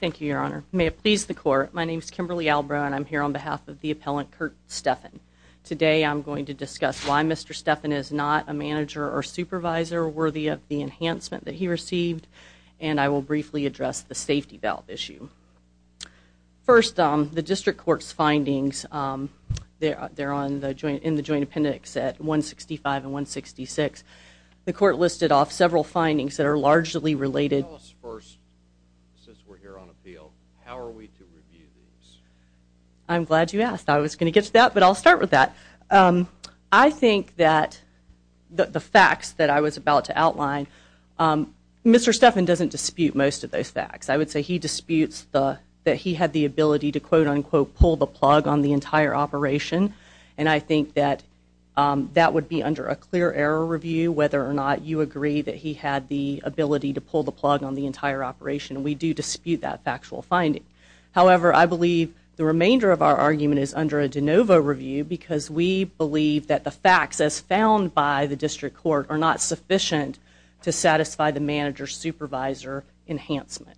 Thank you, your honor. May it please the court, my name is Kimberly Albrow and I'm here on behalf of the appellant Kurt Steffen. Today I'm going to discuss why Mr. Steffen is not a manager or supervisor worthy of the enhancement that he received and I will briefly address the safety valve issue. First, the district court's findings, they're in the joint appendix at 165 and 166. The court listed off several findings that are largely related. Tell us first, since we're here on appeal, how are we to review these? I'm glad you asked. I was going to get to that, but I'll start with that. I think that the facts that I was about to outline, Mr. Steffen doesn't dispute most of those facts. I would say he disputes that he had the ability to quote unquote pull the plug on the entire operation and I think that that would be under a clear error review whether or not you agree that he had the ability to pull the plug on the entire operation. We do dispute that factual finding. However, I believe the remainder of our argument is under a de novo review because we believe that the facts as found by the district court are not sufficient to satisfy the manager-supervisor enhancement.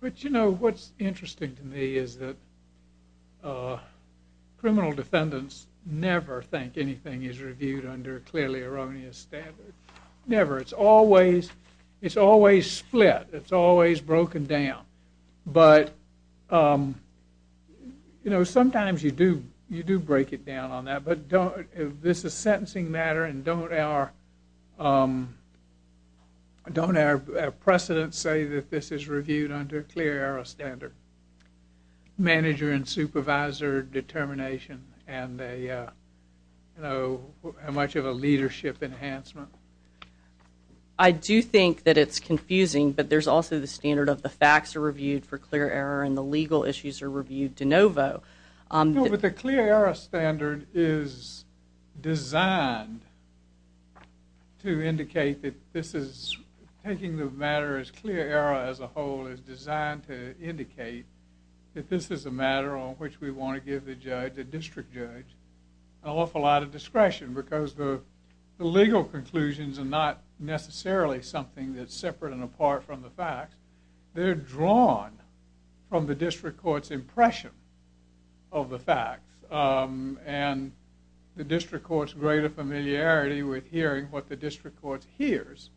What's interesting to me is that criminal defendants never think anything is reviewed under a clearly erroneous standard. Never. It's always split. It's always broken down. Sometimes you do break it down on that, but this is a sentencing matter and don't our precedents say that this is reviewed under a clear error standard? Manager and supervisor determination and how much of a leadership enhancement? I do think that it's confusing, but there's also the standard of the facts are reviewed for clear error and the legal issues are reviewed de novo. No, but the clear error standard is designed to indicate that this is taking the matter as clear error as a whole is designed to indicate that this is a matter on which we want to give the judge, the district judge, an awful lot of discretion because the legal conclusions are not necessarily something that's separate and apart from the facts. They're drawn from the district court's impression of the facts and the district court's greater familiarity with hearing what the district court hears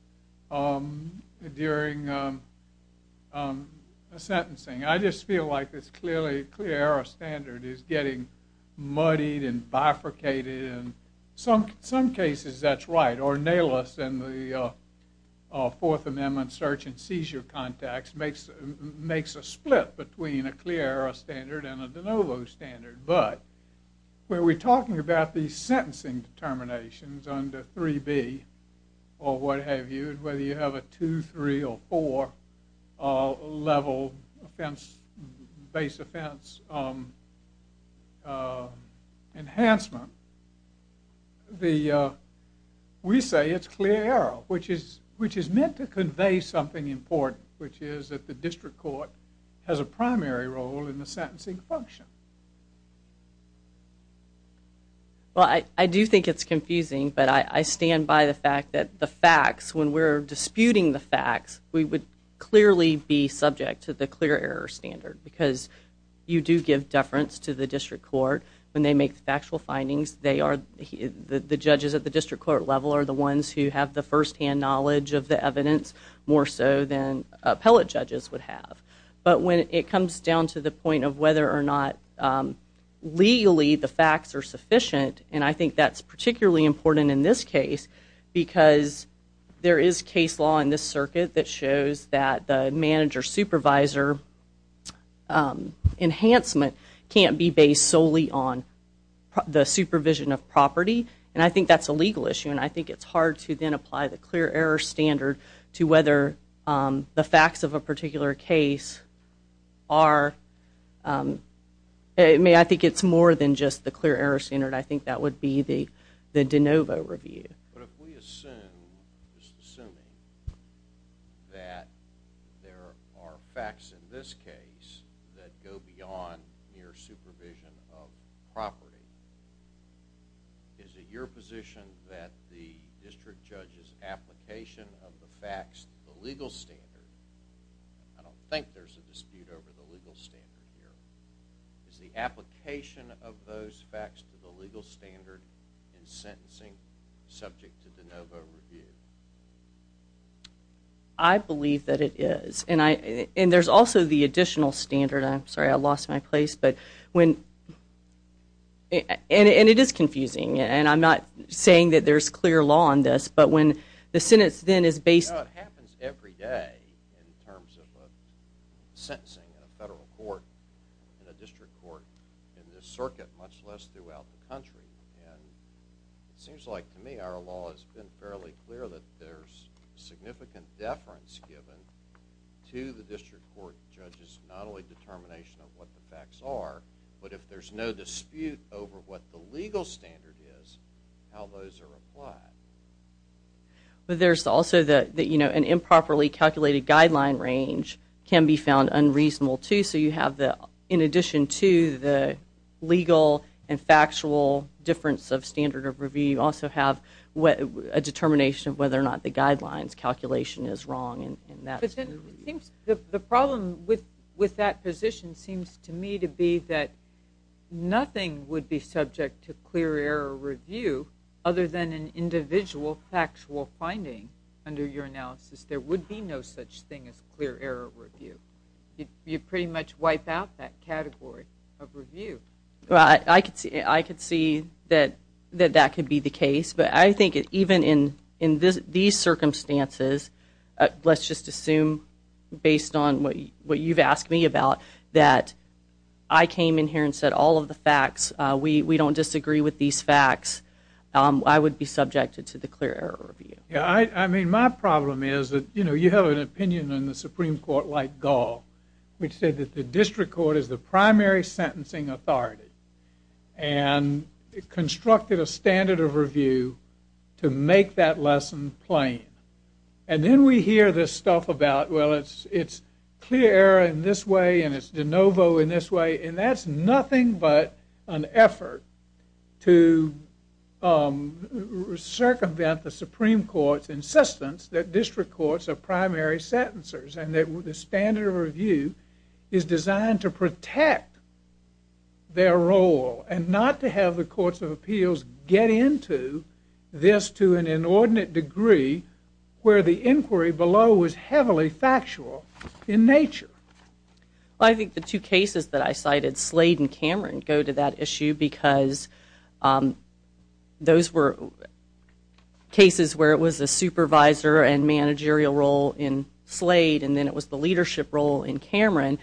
during a sentencing. I just feel like this clear error standard is getting muddied and bifurcated and in some cases that's right. Ornalis in the Fourth Amendment search and seizure context makes a split between a clear error standard and a de novo standard. But when we're talking about the sentencing determinations under 3B or what have you, whether you have a 2, 3, or 4 level offense, base offense enhancement, we say it's clear error, which is meant to convey something important, which is that the district court has a primary role in the sentencing function. Well, I do think it's confusing, but I stand by the fact that the facts, when we're disputing the facts, we would clearly be subject to the clear error standard because you do give deference to the district court when they make the factual findings. The judges at the district court level are the ones who have the first-hand knowledge of the evidence more so than appellate judges would have. But when it comes down to the point of whether or not legally the facts are sufficient, and I think that's particularly important in this case, because there is case law in this circuit that shows that the manager-supervisor enhancement can't be based solely on the supervisor. And I think that's a legal issue, and I think it's hard to then apply the clear error standard to whether the facts of a particular case are, I think it's more than just the clear error standard. I think that would be the de novo review. But if we assume, just assuming, that there are facts in this case that go beyond mere supervision of property, is it your position that the district judge's application of the facts to the legal standard, I don't think there's a dispute over the legal standard here, is the application of those facts to the legal standard in sentencing subject to de novo review? I believe that it is. And there's also the additional standard. I'm sorry, I lost my place. And it is confusing. And I'm not saying that there's clear law on this, but when the sentence then is based You know, it happens every day in terms of a sentencing in a federal court, in a district court, in this circuit, much less throughout the country. And it seems like, to me, our law has been fairly clear that there's significant deference given to the district court judge's not only determination of what the facts are, but if there's no dispute over what the legal standard is, how those are applied. But there's also the, you know, an improperly calculated guideline range can be found unreasonable, too. So you have the, in addition to the legal and factual difference of standard of review, you also have a determination of whether or not the guidelines calculation is wrong. The problem with that position seems to me to be that nothing would be subject to clear error review other than an individual factual finding under your analysis. There would be no such thing as clear error review. You pretty much wipe out that category of review. I could see that that could be the case, but I think even in these circumstances, let's just assume, based on what you've asked me about, that I came in here and said all of the facts, we don't disagree with these facts, I would be subjected to the clear error review. Yeah, I mean, my problem is that, you know, you have an opinion in the Supreme Court like Gall, which said that the district court is the primary sentencing authority, and constructed a standard of review to make that lesson plain. And then we hear this stuff about, well, it's clear error in this way and it's de novo in this way, and that's nothing but an effort to circumvent the Supreme Court's insistence that district courts are primary sentencers and that the standard of review is designed to protect their role and not to have the courts of appeals get into this to an inordinate degree where the inquiry below was heavily factual in nature. Well, I think the two cases that I cited, Slade and Cameron, go to that issue because those were cases where it was a supervisor and managerial role in Slade and then it was the leadership role in Cameron.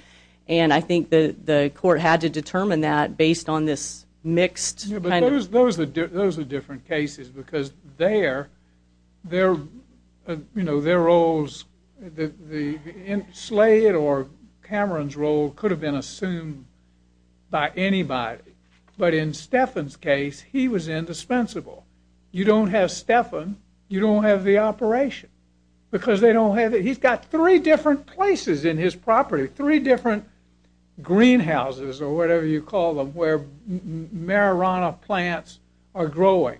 And I think the court had to determine that based on this mixed kind of... Yeah, but those are different cases because their roles, Slade or Cameron's role could have been assumed by anybody, but in Stephan's case, he was indispensable. You don't have Stephan, you don't have the operation because they don't have it. He's got three different places in his property, three different greenhouses or whatever you call them, where marijuana plants are growing.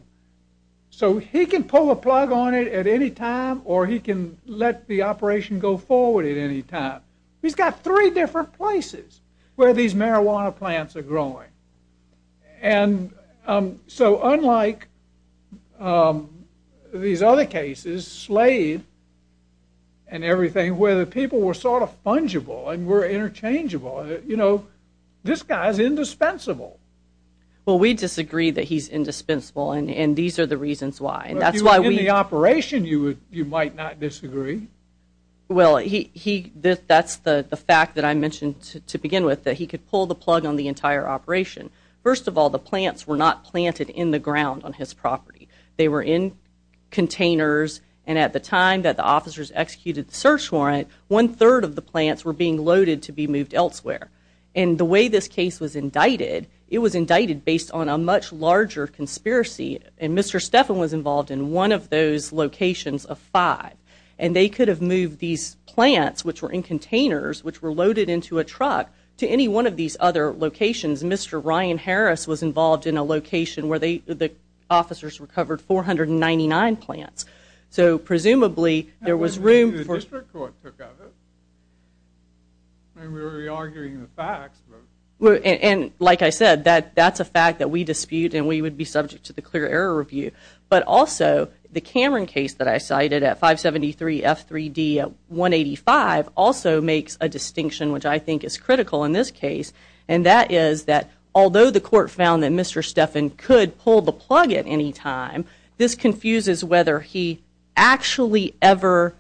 So he can pull a plug on it at any time or he can let the operation go forward at any time. He's got three different places where these marijuana plants are growing. And so unlike these other cases, Slade and everything, where the people were sort of fungible and were interchangeable, you know, this guy's indispensable. Well, we disagree that he's indispensable and these are the reasons why. If you were in the operation, you might not disagree. Well, that's the fact that I mentioned to begin with, that he could pull the plug on the entire operation. First of all, the plants were not planted in the ground on his property. They were in containers and at the time that the officers executed the search warrant, one-third of the plants were being loaded to be moved elsewhere. And the way this case was indicted, it was indicted based on a much larger conspiracy and Mr. Stephan was involved in one of those locations of five. And they could have moved these plants, which were in containers, which were loaded into a truck, to any one of these other locations. Mr. Ryan Harris was involved in a location where the officers recovered 499 plants. So presumably there was room for... The district court took over. I mean, we were re-arguing the facts. And like I said, that's a fact that we dispute and we would be subject to the clear error review. But also, the Cameron case that I cited at 573 F3D 185 also makes a distinction, which I think is critical in this case. And that is that although the court found that Mr. Stephan could pull the plug at any time, this confuses whether he actually ever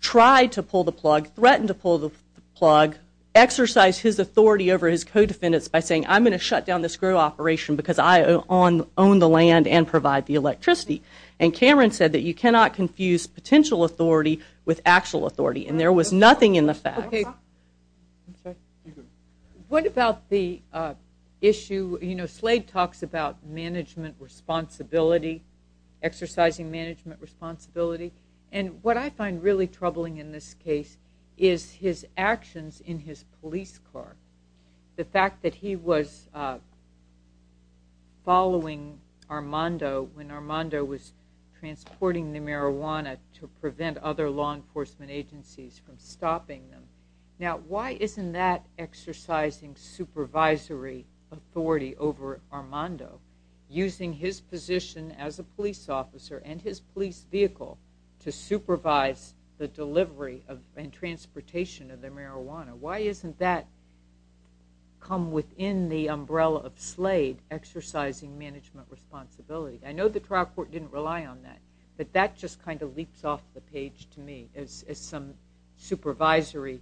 tried to pull the plug, threatened to pull the plug, exercised his authority over his co-defendants by saying, I'm going to shut down this screw operation because I own the land and provide the electricity. And Cameron said that you cannot confuse potential authority with actual authority. And there was nothing in the facts. What about the issue... You know, Slade talks about management responsibility, exercising management responsibility. And what I find really troubling in this case is his actions in his police car. The fact that he was following Armando when Armando was transporting the marijuana to prevent other law enforcement agencies from stopping them. Now, why isn't that exercising supervisory authority over Armando, using his position as a police officer and his police vehicle to supervise the delivery and transportation of the marijuana? Why isn't that come within the umbrella of Slade exercising management responsibility? I know the trial court didn't rely on that, but that just kind of leaps off the page to me as some supervisory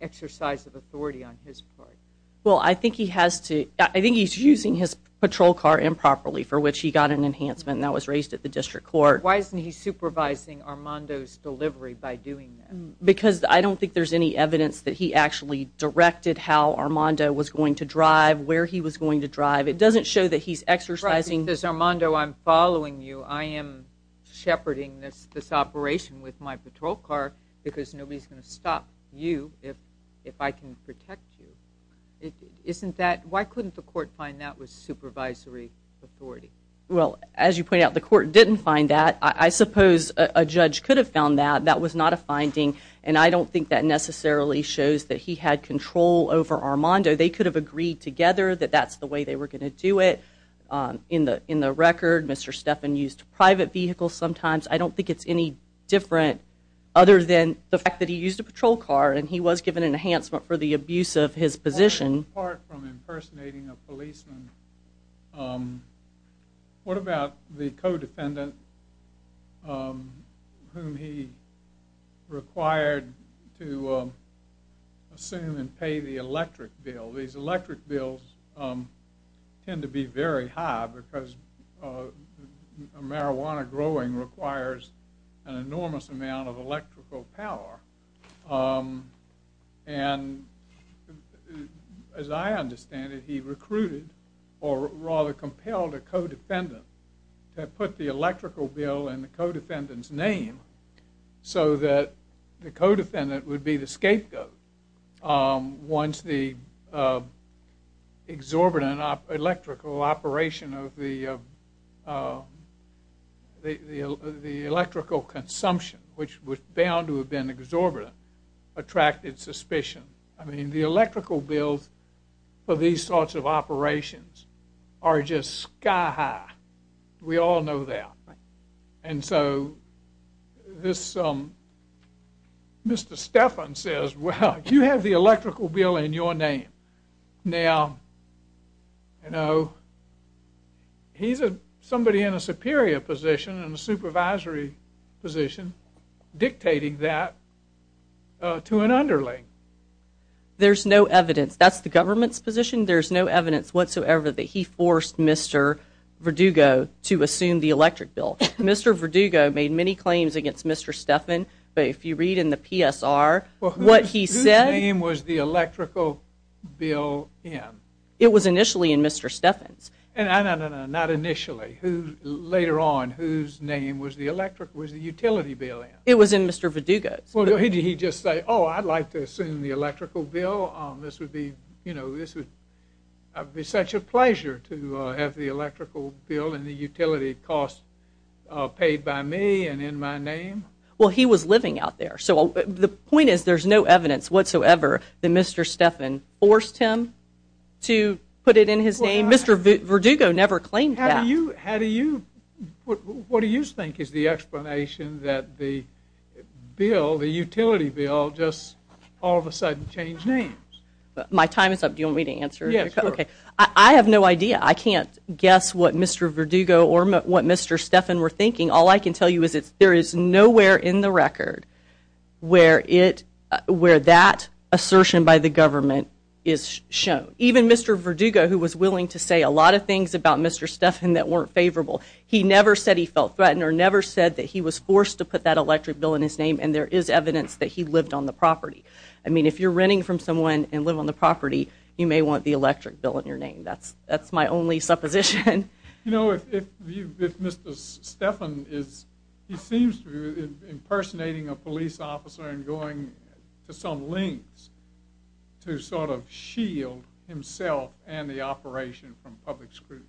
exercise of authority on his part. Well, I think he has to... I think he's using his patrol car improperly for which he got an enhancement and that was raised at the district court. Why isn't he supervising Armando's delivery by doing that? Because I don't think there's any evidence that he actually directed how Armando was going to drive, where he was going to drive. It doesn't show that he's exercising... Right, because Armando, I'm following you. I am shepherding this operation with my patrol car because nobody's going to stop you if I can protect you. Isn't that... Why couldn't the court find that was supervisory authority? Well, as you point out, the court didn't find that. I suppose a judge could have found that. That was not a finding, and I don't think that necessarily shows that he had control over Armando. They could have agreed together that that's the way they were going to do it. In the record, Mr. Stephan used private vehicles sometimes. I don't think it's any different other than the fact that he used a patrol car and he was given an enhancement for the abuse of his position. Apart from impersonating a policeman, what about the co-defendant whom he required to assume and pay the electric bill? These electric bills tend to be very high because marijuana growing requires an enormous amount of electrical power. And as I understand it, he recruited or rather compelled a co-defendant to put the electrical bill in the co-defendant's name so that the co-defendant would be the scapegoat once the exorbitant electrical operation of the electrical consumption, which was bound to have been exorbitant, attracted suspicion. I mean, the electrical bills for these sorts of operations are just sky high. We all know that. And so Mr. Stephan says, well, you have the electrical bill in your name. Now, you know, he's somebody in a superior position, in a supervisory position, dictating that to an underling. There's no evidence. That's the government's position. There's no evidence whatsoever that he forced Mr. Verdugo to assume the electric bill. Mr. Verdugo made many claims against Mr. Stephan, but if you read in the PSR what he said… It was initially in Mr. Stephan's. No, no, no, not initially. Later on, whose name was the utility bill in? It was in Mr. Verdugo's. Well, did he just say, oh, I'd like to assume the electrical bill. This would be such a pleasure to have the electrical bill and the utility costs paid by me and in my name. Well, he was living out there. So the point is there's no evidence whatsoever that Mr. Stephan forced him to put it in his name. Mr. Verdugo never claimed that. How do you – what do you think is the explanation that the bill, the utility bill, just all of a sudden changed names? My time is up. Do you want me to answer? Yes, sure. Okay. I have no idea. I can't guess what Mr. Verdugo or what Mr. Stephan were thinking. All I can tell you is there is nowhere in the record where it – where that assertion by the government is shown. Even Mr. Verdugo, who was willing to say a lot of things about Mr. Stephan that weren't favorable, he never said he felt threatened or never said that he was forced to put that electric bill in his name, and there is evidence that he lived on the property. I mean, if you're renting from someone and live on the property, you may want the electric bill in your name. That's my only supposition. You know, if you – if Mr. Stephan is – he seems to be impersonating a police officer and going to some lengths to sort of shield himself and the operation from public scrutiny.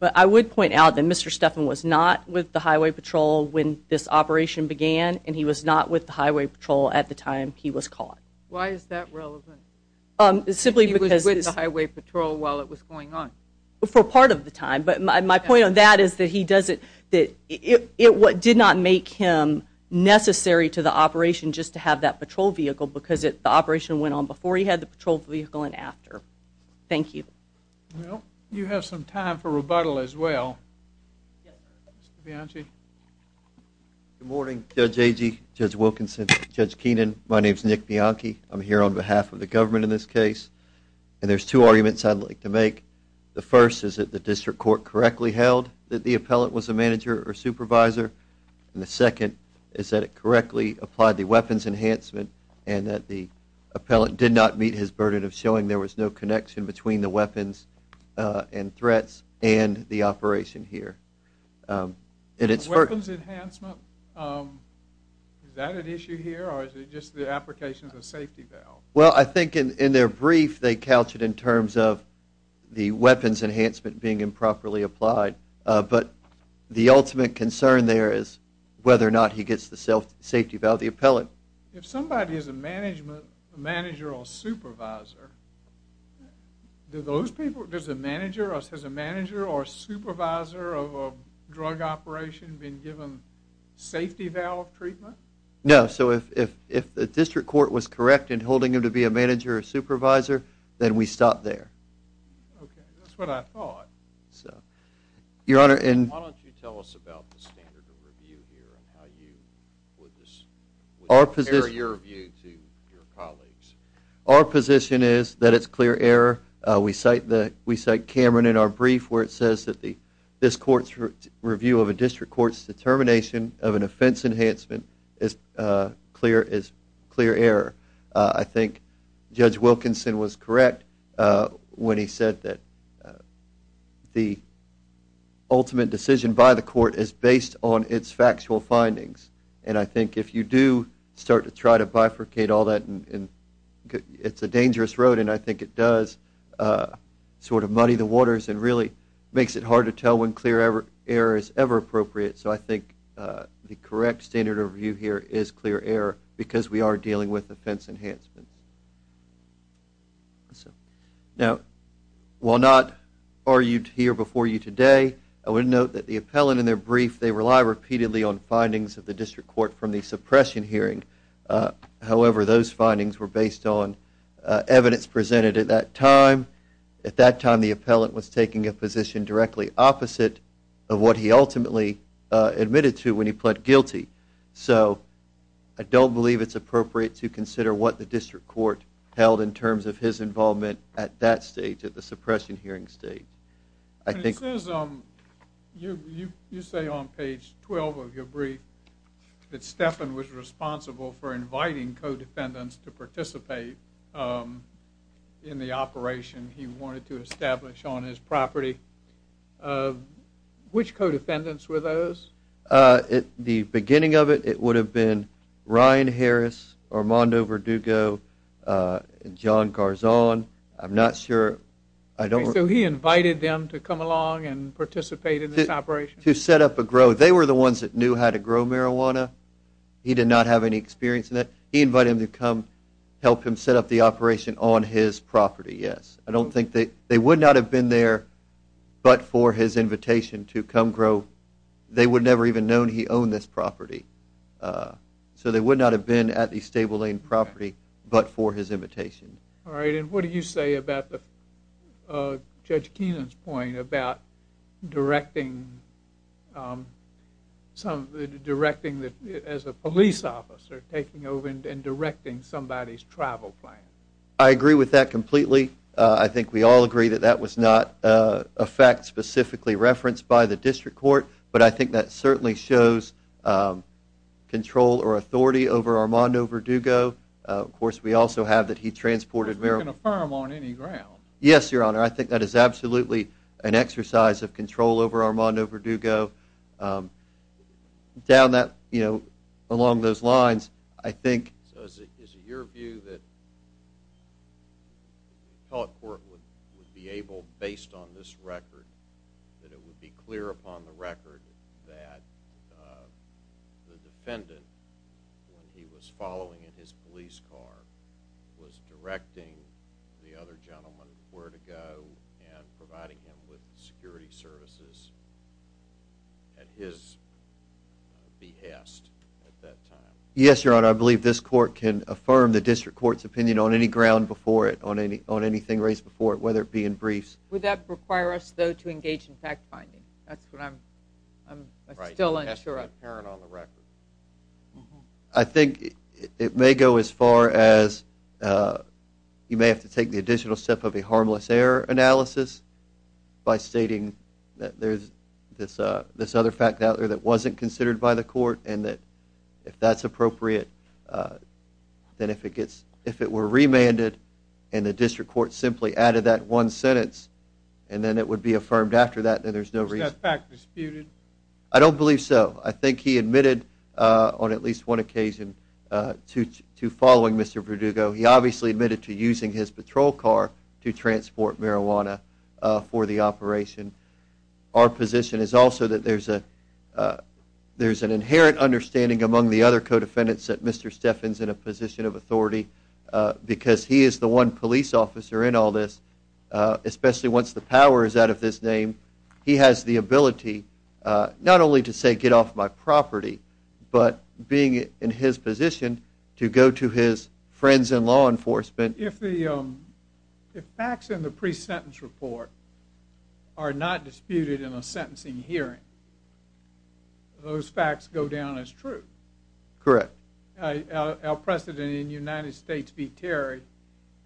But I would point out that Mr. Stephan was not with the highway patrol when this operation began, and he was not with the highway patrol at the time he was caught. Why is that relevant? Simply because – He was with the highway patrol while it was going on. For part of the time, but my point on that is that he doesn't – that it did not make him necessary to the operation just to have that patrol vehicle because the operation went on before he had the patrol vehicle and after. Thank you. Well, you have some time for rebuttal as well. Mr. Bianchi. Good morning, Judge Agee, Judge Wilkinson, Judge Keenan. My name is Nick Bianchi. I'm here on behalf of the government in this case, and there's two arguments I'd like to make. The first is that the district court correctly held that the appellant was a manager or supervisor, and the second is that it correctly applied the weapons enhancement and that the appellant did not meet his burden of showing there was no connection between the weapons and threats and the operation here. The weapons enhancement, is that an issue here, or is it just the application of a safety valve? Well, I think in their brief they couched it in terms of the weapons enhancement being improperly applied, but the ultimate concern there is whether or not he gets the safety valve of the appellant. If somebody is a manager or supervisor, does a manager or supervisor of a drug operation have been given safety valve treatment? No, so if the district court was correct in holding him to be a manager or supervisor, then we stop there. Okay, that's what I thought. Why don't you tell us about the standard of review here and how you would compare your view to your colleagues? Our position is that it's clear error. We cite Cameron in our brief where it says that this court's review of a district court's determination of an offense enhancement is clear error. I think Judge Wilkinson was correct when he said that the ultimate decision by the court is based on its factual findings, and I think if you do start to try to bifurcate all that, it's a dangerous road, and I think it does sort of muddy the waters and really makes it hard to tell when clear error is ever appropriate. So I think the correct standard of review here is clear error because we are dealing with offense enhancements. Now, while not argued here before you today, I would note that the appellant in their brief, they rely repeatedly on findings of the district court from the suppression hearing. However, those findings were based on evidence presented at that time. At that time, the appellant was taking a position directly opposite of what he ultimately admitted to when he pled guilty. So I don't believe it's appropriate to consider what the district court held in terms of his involvement at that stage, at the suppression hearing stage. It says, you say on page 12 of your brief, that Stephan was responsible for inviting co-defendants to participate in the operation he wanted to establish on his property. Which co-defendants were those? At the beginning of it, it would have been Ryan Harris, Armando Verdugo, and John Garzon. I'm not sure. So he invited them to come along and participate in this operation? To set up a grow. They were the ones that knew how to grow marijuana. He did not have any experience in that. He invited them to come help him set up the operation on his property, yes. I don't think they would not have been there but for his invitation to come grow. They would never even have known he owned this property. So they would not have been at the Stable Lane property but for his invitation. All right, and what do you say about Judge Keenan's point about directing as a police officer, taking over and directing somebody's travel plan? I agree with that completely. I think we all agree that that was not a fact specifically referenced by the District Court. But I think that certainly shows control or authority over Armando Verdugo. Of course, we also have that he transported marijuana. Because we can affirm on any ground. Yes, Your Honor. I think that is absolutely an exercise of control over Armando Verdugo. Along those lines, I think... So is it your view that the appellate court would be able, based on this record, that it would be clear upon the record that the defendant, when he was following in his police car, was directing the other gentleman where to go and providing him with security services at his behest at that time? Yes, Your Honor. I believe this court can affirm the District Court's opinion on any ground before it, on anything raised before it, whether it be in briefs. Would that require us, though, to engage in fact-finding? That's what I'm still unsure of. Right. It has to be apparent on the record. I think it may go as far as you may have to take the additional step of a harmless error analysis by stating that there's this other fact out there that wasn't considered by the court and that if that's appropriate, then if it were remanded and the District Court simply added that one sentence and then it would be affirmed after that, then there's no reason... Is that fact disputed? I don't believe so. I think he admitted on at least one occasion to following Mr. Verdugo. He obviously admitted to using his patrol car to transport marijuana for the operation. Our position is also that there's an inherent understanding among the other co-defendants that Mr. Steffen's in a position of authority because he is the one police officer in all this, especially once the power is out of his name. He has the ability not only to say, get off my property, but being in his position to go to his friends in law enforcement. If facts in the pre-sentence report are not disputed in a sentencing hearing, those facts go down as true. Correct. Our precedent in United States v. Terry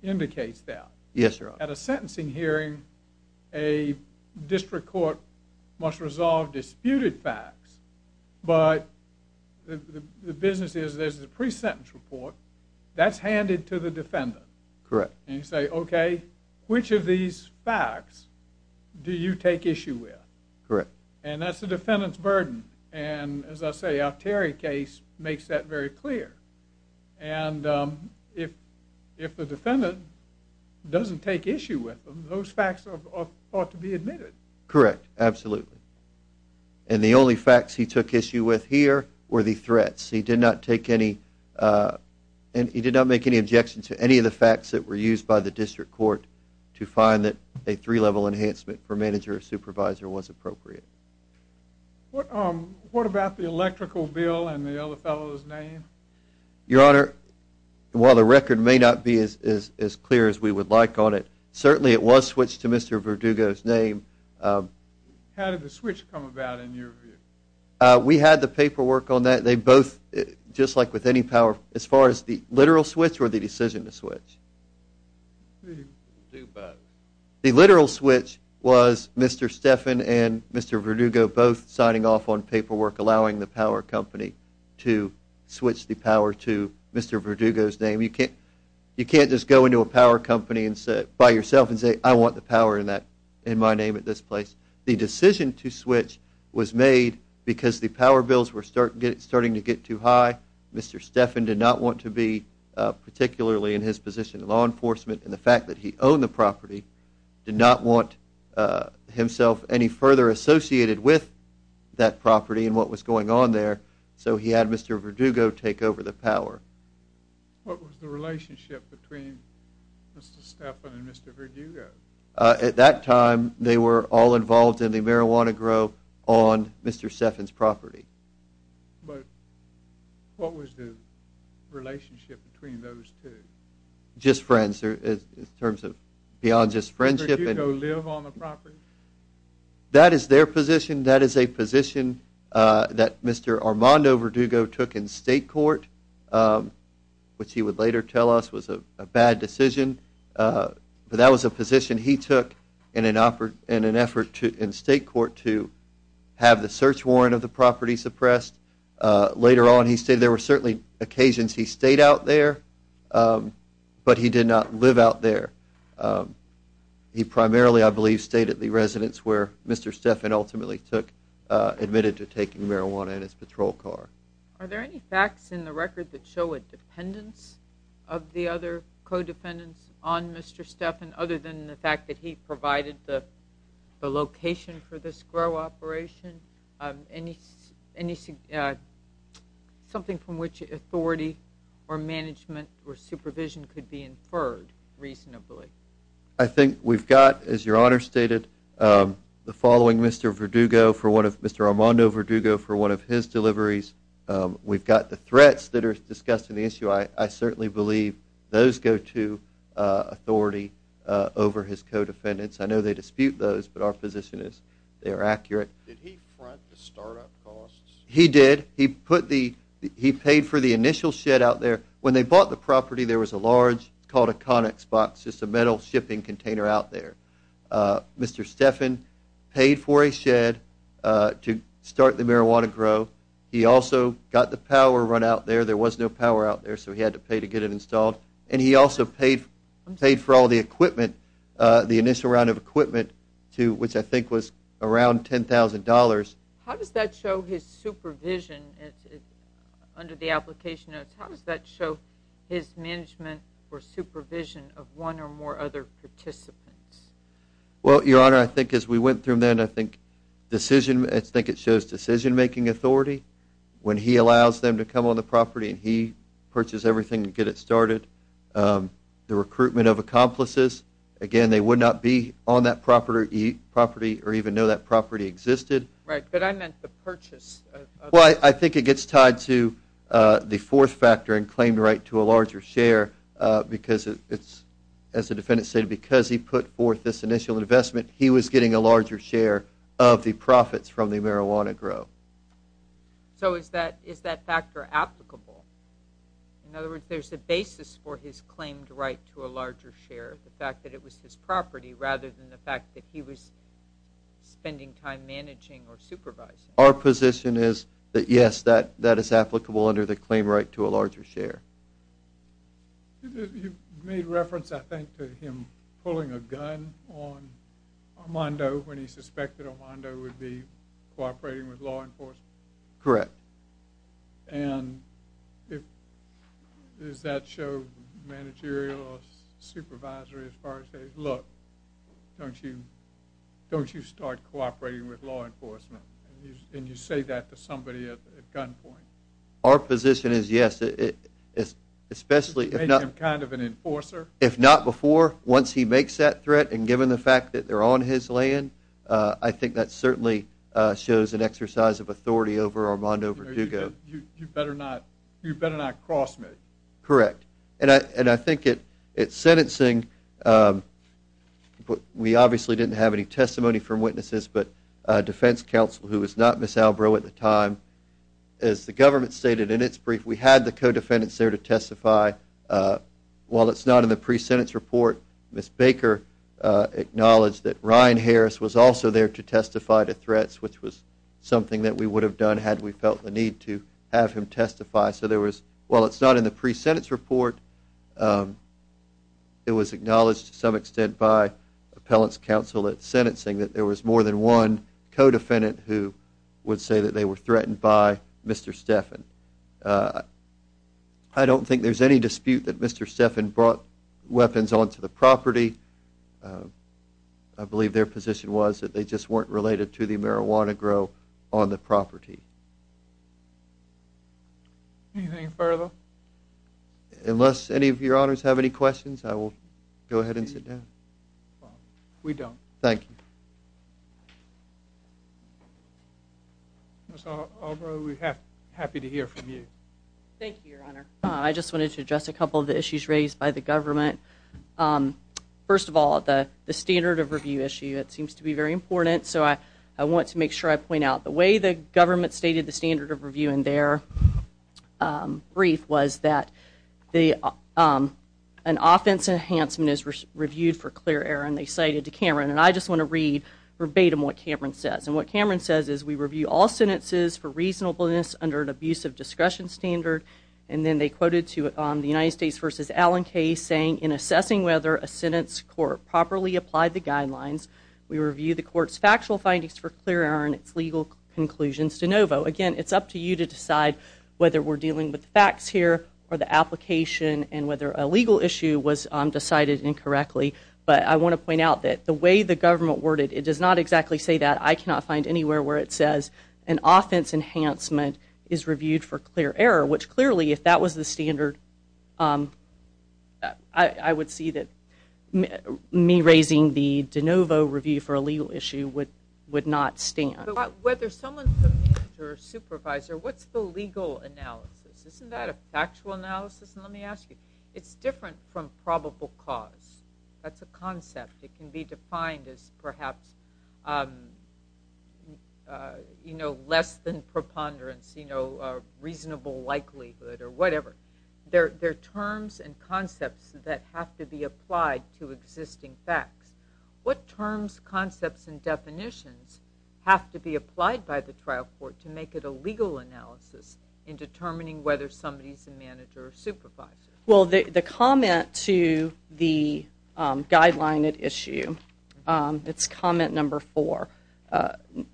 indicates that. Yes, Your Honor. At a sentencing hearing, a District Court must resolve disputed facts, but the business is there's a pre-sentence report that's handed to the defendant. Correct. And you say, okay, which of these facts do you take issue with? Correct. And that's the defendant's burden. And as I say, our Terry case makes that very clear. And if the defendant doesn't take issue with them, those facts ought to be admitted. Correct. Absolutely. And the only facts he took issue with here were the threats. He did not make any objections to any of the facts that were used by the District Court to find that a three-level enhancement for manager or supervisor was appropriate. What about the electrical bill and the other fellow's name? Your Honor, while the record may not be as clear as we would like on it, certainly it was switched to Mr. Verdugo's name. How did the switch come about in your view? We had the paperwork on that. They both, just like with any power, as far as the literal switch or the decision to switch? They do both. The literal switch was Mr. Stephan and Mr. Verdugo both signing off on paperwork allowing the power company to switch the power to Mr. Verdugo's name. You can't just go into a power company by yourself and say, I want the power in my name at this place. The decision to switch was made because the power bills were starting to get too high. Mr. Stephan did not want to be particularly in his position in law enforcement, and the fact that he owned the property, did not want himself any further associated with that property and what was going on there, so he had Mr. Verdugo take over the power. What was the relationship between Mr. Stephan and Mr. Verdugo? At that time, they were all involved in the marijuana grow on Mr. Stephan's property. But what was the relationship between those two? Just friends in terms of beyond just friendship. Did Verdugo live on the property? That is their position. That is a position that Mr. Armando Verdugo took in state court, which he would later tell us was a bad decision. But that was a position he took in an effort in state court to have the search warrant of the property suppressed. Later on, he stated there were certainly occasions he stayed out there, but he did not live out there. He primarily, I believe, stayed at the residence where Mr. Stephan ultimately took, admitted to taking marijuana in his patrol car. Are there any facts in the record that show a dependence of the other co-defendants on Mr. Stephan other than the fact that he provided the location for this grow operation? Anything, something from which authority or management or supervision could be inferred reasonably? I think we've got, as Your Honor stated, the following Mr. Verdugo, Mr. Armando Verdugo for one of his deliveries. We've got the threats that are discussed in the issue. I certainly believe those go to authority over his co-defendants. I know they dispute those, but our position is they are accurate. Did he front the startup costs? He did. He paid for the initial shed out there. When they bought the property, there was a large, it's called a conics box, just a metal shipping container out there. Mr. Stephan paid for a shed to start the marijuana grow. He also got the power run out there. There was no power out there, so he had to pay to get it installed. And he also paid for all the equipment, the initial round of equipment, which I think was around $10,000. How does that show his supervision under the application notes? How does that show his management or supervision of one or more other participants? Well, Your Honor, I think as we went through them, I think it shows decision-making authority when he allows them to come on the property and he purchased everything to get it started. The recruitment of accomplices. Again, they would not be on that property or even know that property existed. Right, but I meant the purchase. Well, I think it gets tied to the fourth factor in claimed right to a larger share because it's, as the defendant stated, because he put forth this initial investment, he was getting a larger share of the profits from the marijuana grow. So is that factor applicable? In other words, there's a basis for his claimed right to a larger share, the fact that it was his property rather than the fact that he was spending time managing or supervising. Our position is that, yes, that is applicable under the claim right to a larger share. You made reference, I think, to him pulling a gun on Armando when he suspected Armando would be cooperating with law enforcement. Correct. And does that show managerial or supervisory as far as saying, look, don't you start cooperating with law enforcement? And you say that to somebody at gunpoint. Our position is, yes, especially if not before, once he makes that threat, and given the fact that they're on his land, I think that certainly shows an exercise of authority over Armando Verdugo. You better not cross me. Correct. And I think at sentencing, we obviously didn't have any testimony from witnesses, but defense counsel, who was not Ms. Albro at the time, as the government stated in its brief, we had the co-defendants there to testify. While it's not in the pre-sentence report, Ms. Baker acknowledged that Ryan Harris was also there to testify to threats, which was something that we would have done had we felt the need to have him testify. So while it's not in the pre-sentence report, it was acknowledged to some extent by appellant's counsel at sentencing that there was more than one co-defendant who would say that they were threatened by Mr. Steffen. I don't think there's any dispute that Mr. Steffen brought weapons onto the property. I believe their position was that they just weren't related to the marijuana grow on the property. Anything further? Unless any of your honors have any questions, I will go ahead and sit down. We don't. Thank you. Ms. Albro, we're happy to hear from you. Thank you, Your Honor. I just wanted to address a couple of the issues raised by the government. First of all, the standard of review issue, it seems to be very important, so I want to make sure I point out the way the government stated the standard of review in their brief was that an offense enhancement is reviewed for clear error, and they cited to Cameron. And I just want to read verbatim what Cameron says. And what Cameron says is, we review all sentences for reasonableness under an abusive discretion standard. And then they quoted to the United States v. Allen case saying, in assessing whether a sentence court properly applied the guidelines, we review the court's factual findings for clear error and its legal conclusions de novo. Again, it's up to you to decide whether we're dealing with the facts here or the application and whether a legal issue was decided incorrectly. But I want to point out that the way the government worded it, it does not exactly say that. I cannot find anywhere where it says an offense enhancement is reviewed for clear error, which clearly if that was the standard, I would see that me raising the de novo review for a legal issue would not stand. But whether someone's the manager or supervisor, what's the legal analysis? Isn't that a factual analysis? Let me ask you. It's different from probable cause. That's a concept. It can be defined as perhaps less than preponderance, reasonable likelihood, or whatever. They're terms and concepts that have to be applied to existing facts. What terms, concepts, and definitions have to be applied by the trial court to make it a legal analysis in determining whether somebody's the manager or supervisor? Well, the comment to the guideline at issue, it's comment number four,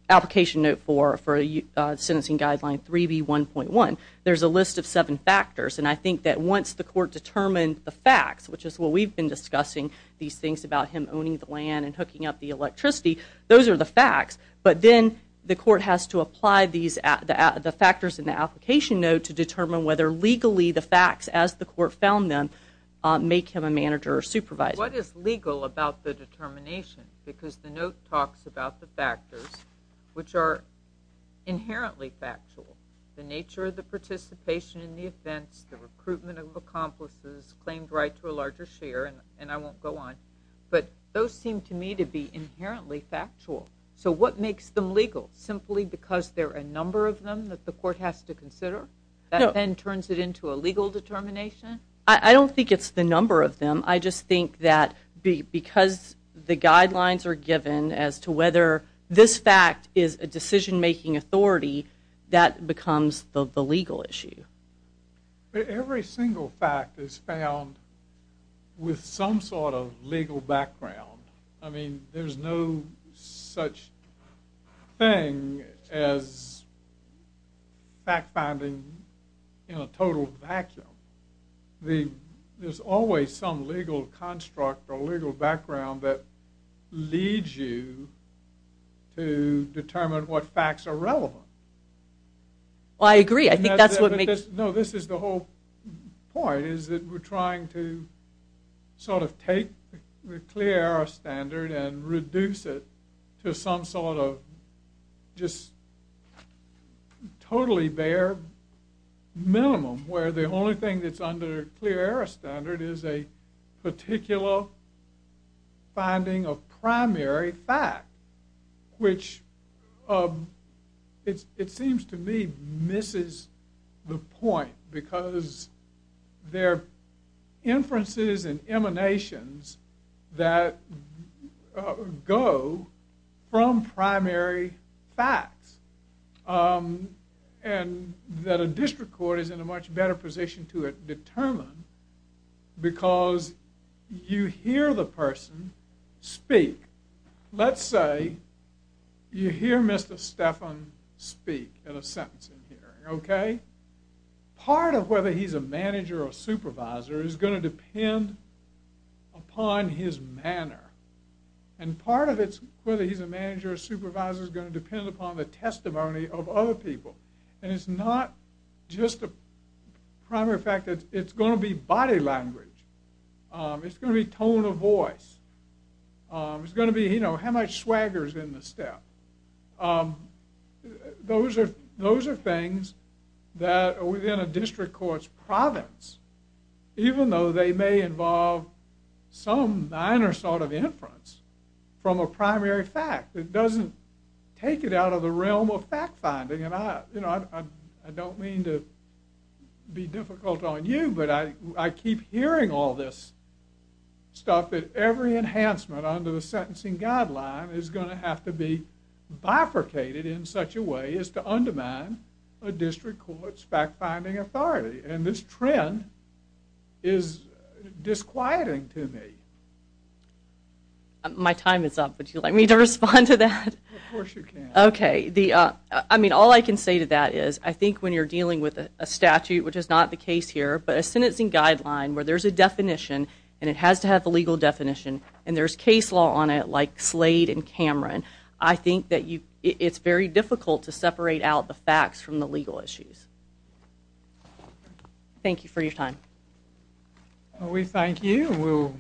application note four for sentencing guideline 3B1.1, there's a list of seven factors. And I think that once the court determined the facts, which is what we've been discussing, these things about him owning the land and hooking up the electricity, those are the facts. But then the court has to apply the factors in the application note to determine whether legally the facts, as the court found them, make him a manager or supervisor. What is legal about the determination? Because the note talks about the factors which are inherently factual, the nature of the participation in the offense, the recruitment of accomplices, claimed right to a larger share, and I won't go on. But those seem to me to be inherently factual. So what makes them legal? Simply because there are a number of them that the court has to consider? No. That then turns it into a legal determination? I don't think it's the number of them. I just think that because the guidelines are given as to whether this fact is a decision-making authority, that becomes the legal issue. But every single fact is found with some sort of legal background. I mean, there's no such thing as fact-finding in a total vacuum. There's always some legal construct or legal background that leads you to determine what facts are relevant. I agree. No, this is the whole point, is that we're trying to sort of take the clear-error standard and reduce it to some sort of just totally bare minimum, where the only thing that's under clear-error standard is a particular finding of primary fact, which it seems to me misses the point, because there are inferences and emanations that go from primary facts, and that a district court is in a much better position to determine, because you hear the person speak. Let's say you hear Mr. Stephan speak in a sentencing hearing, okay? Part of whether he's a manager or supervisor is going to depend upon his manner, and part of whether he's a manager or supervisor is going to depend upon the testimony of other people. And it's not just a primary fact. It's going to be body language. It's going to be tone of voice. It's going to be, you know, how much swagger is in the step. Those are things that are within a district court's province, even though they may involve some minor sort of inference from a primary fact. It doesn't take it out of the realm of fact-finding, and I don't mean to be difficult on you, but I keep hearing all this stuff that every enhancement under the sentencing guideline is going to have to be bifurcated in such a way as to undermine a district court's fact-finding authority, and this trend is disquieting to me. My time is up. Would you like me to respond to that? Of course you can. Okay. I mean, all I can say to that is I think when you're dealing with a statute, which is not the case here, but a sentencing guideline where there's a definition and it has to have a legal definition and there's case law on it like Slade and Cameron, I think that it's very difficult to separate out the facts from the legal issues. Thank you for your time. We thank you.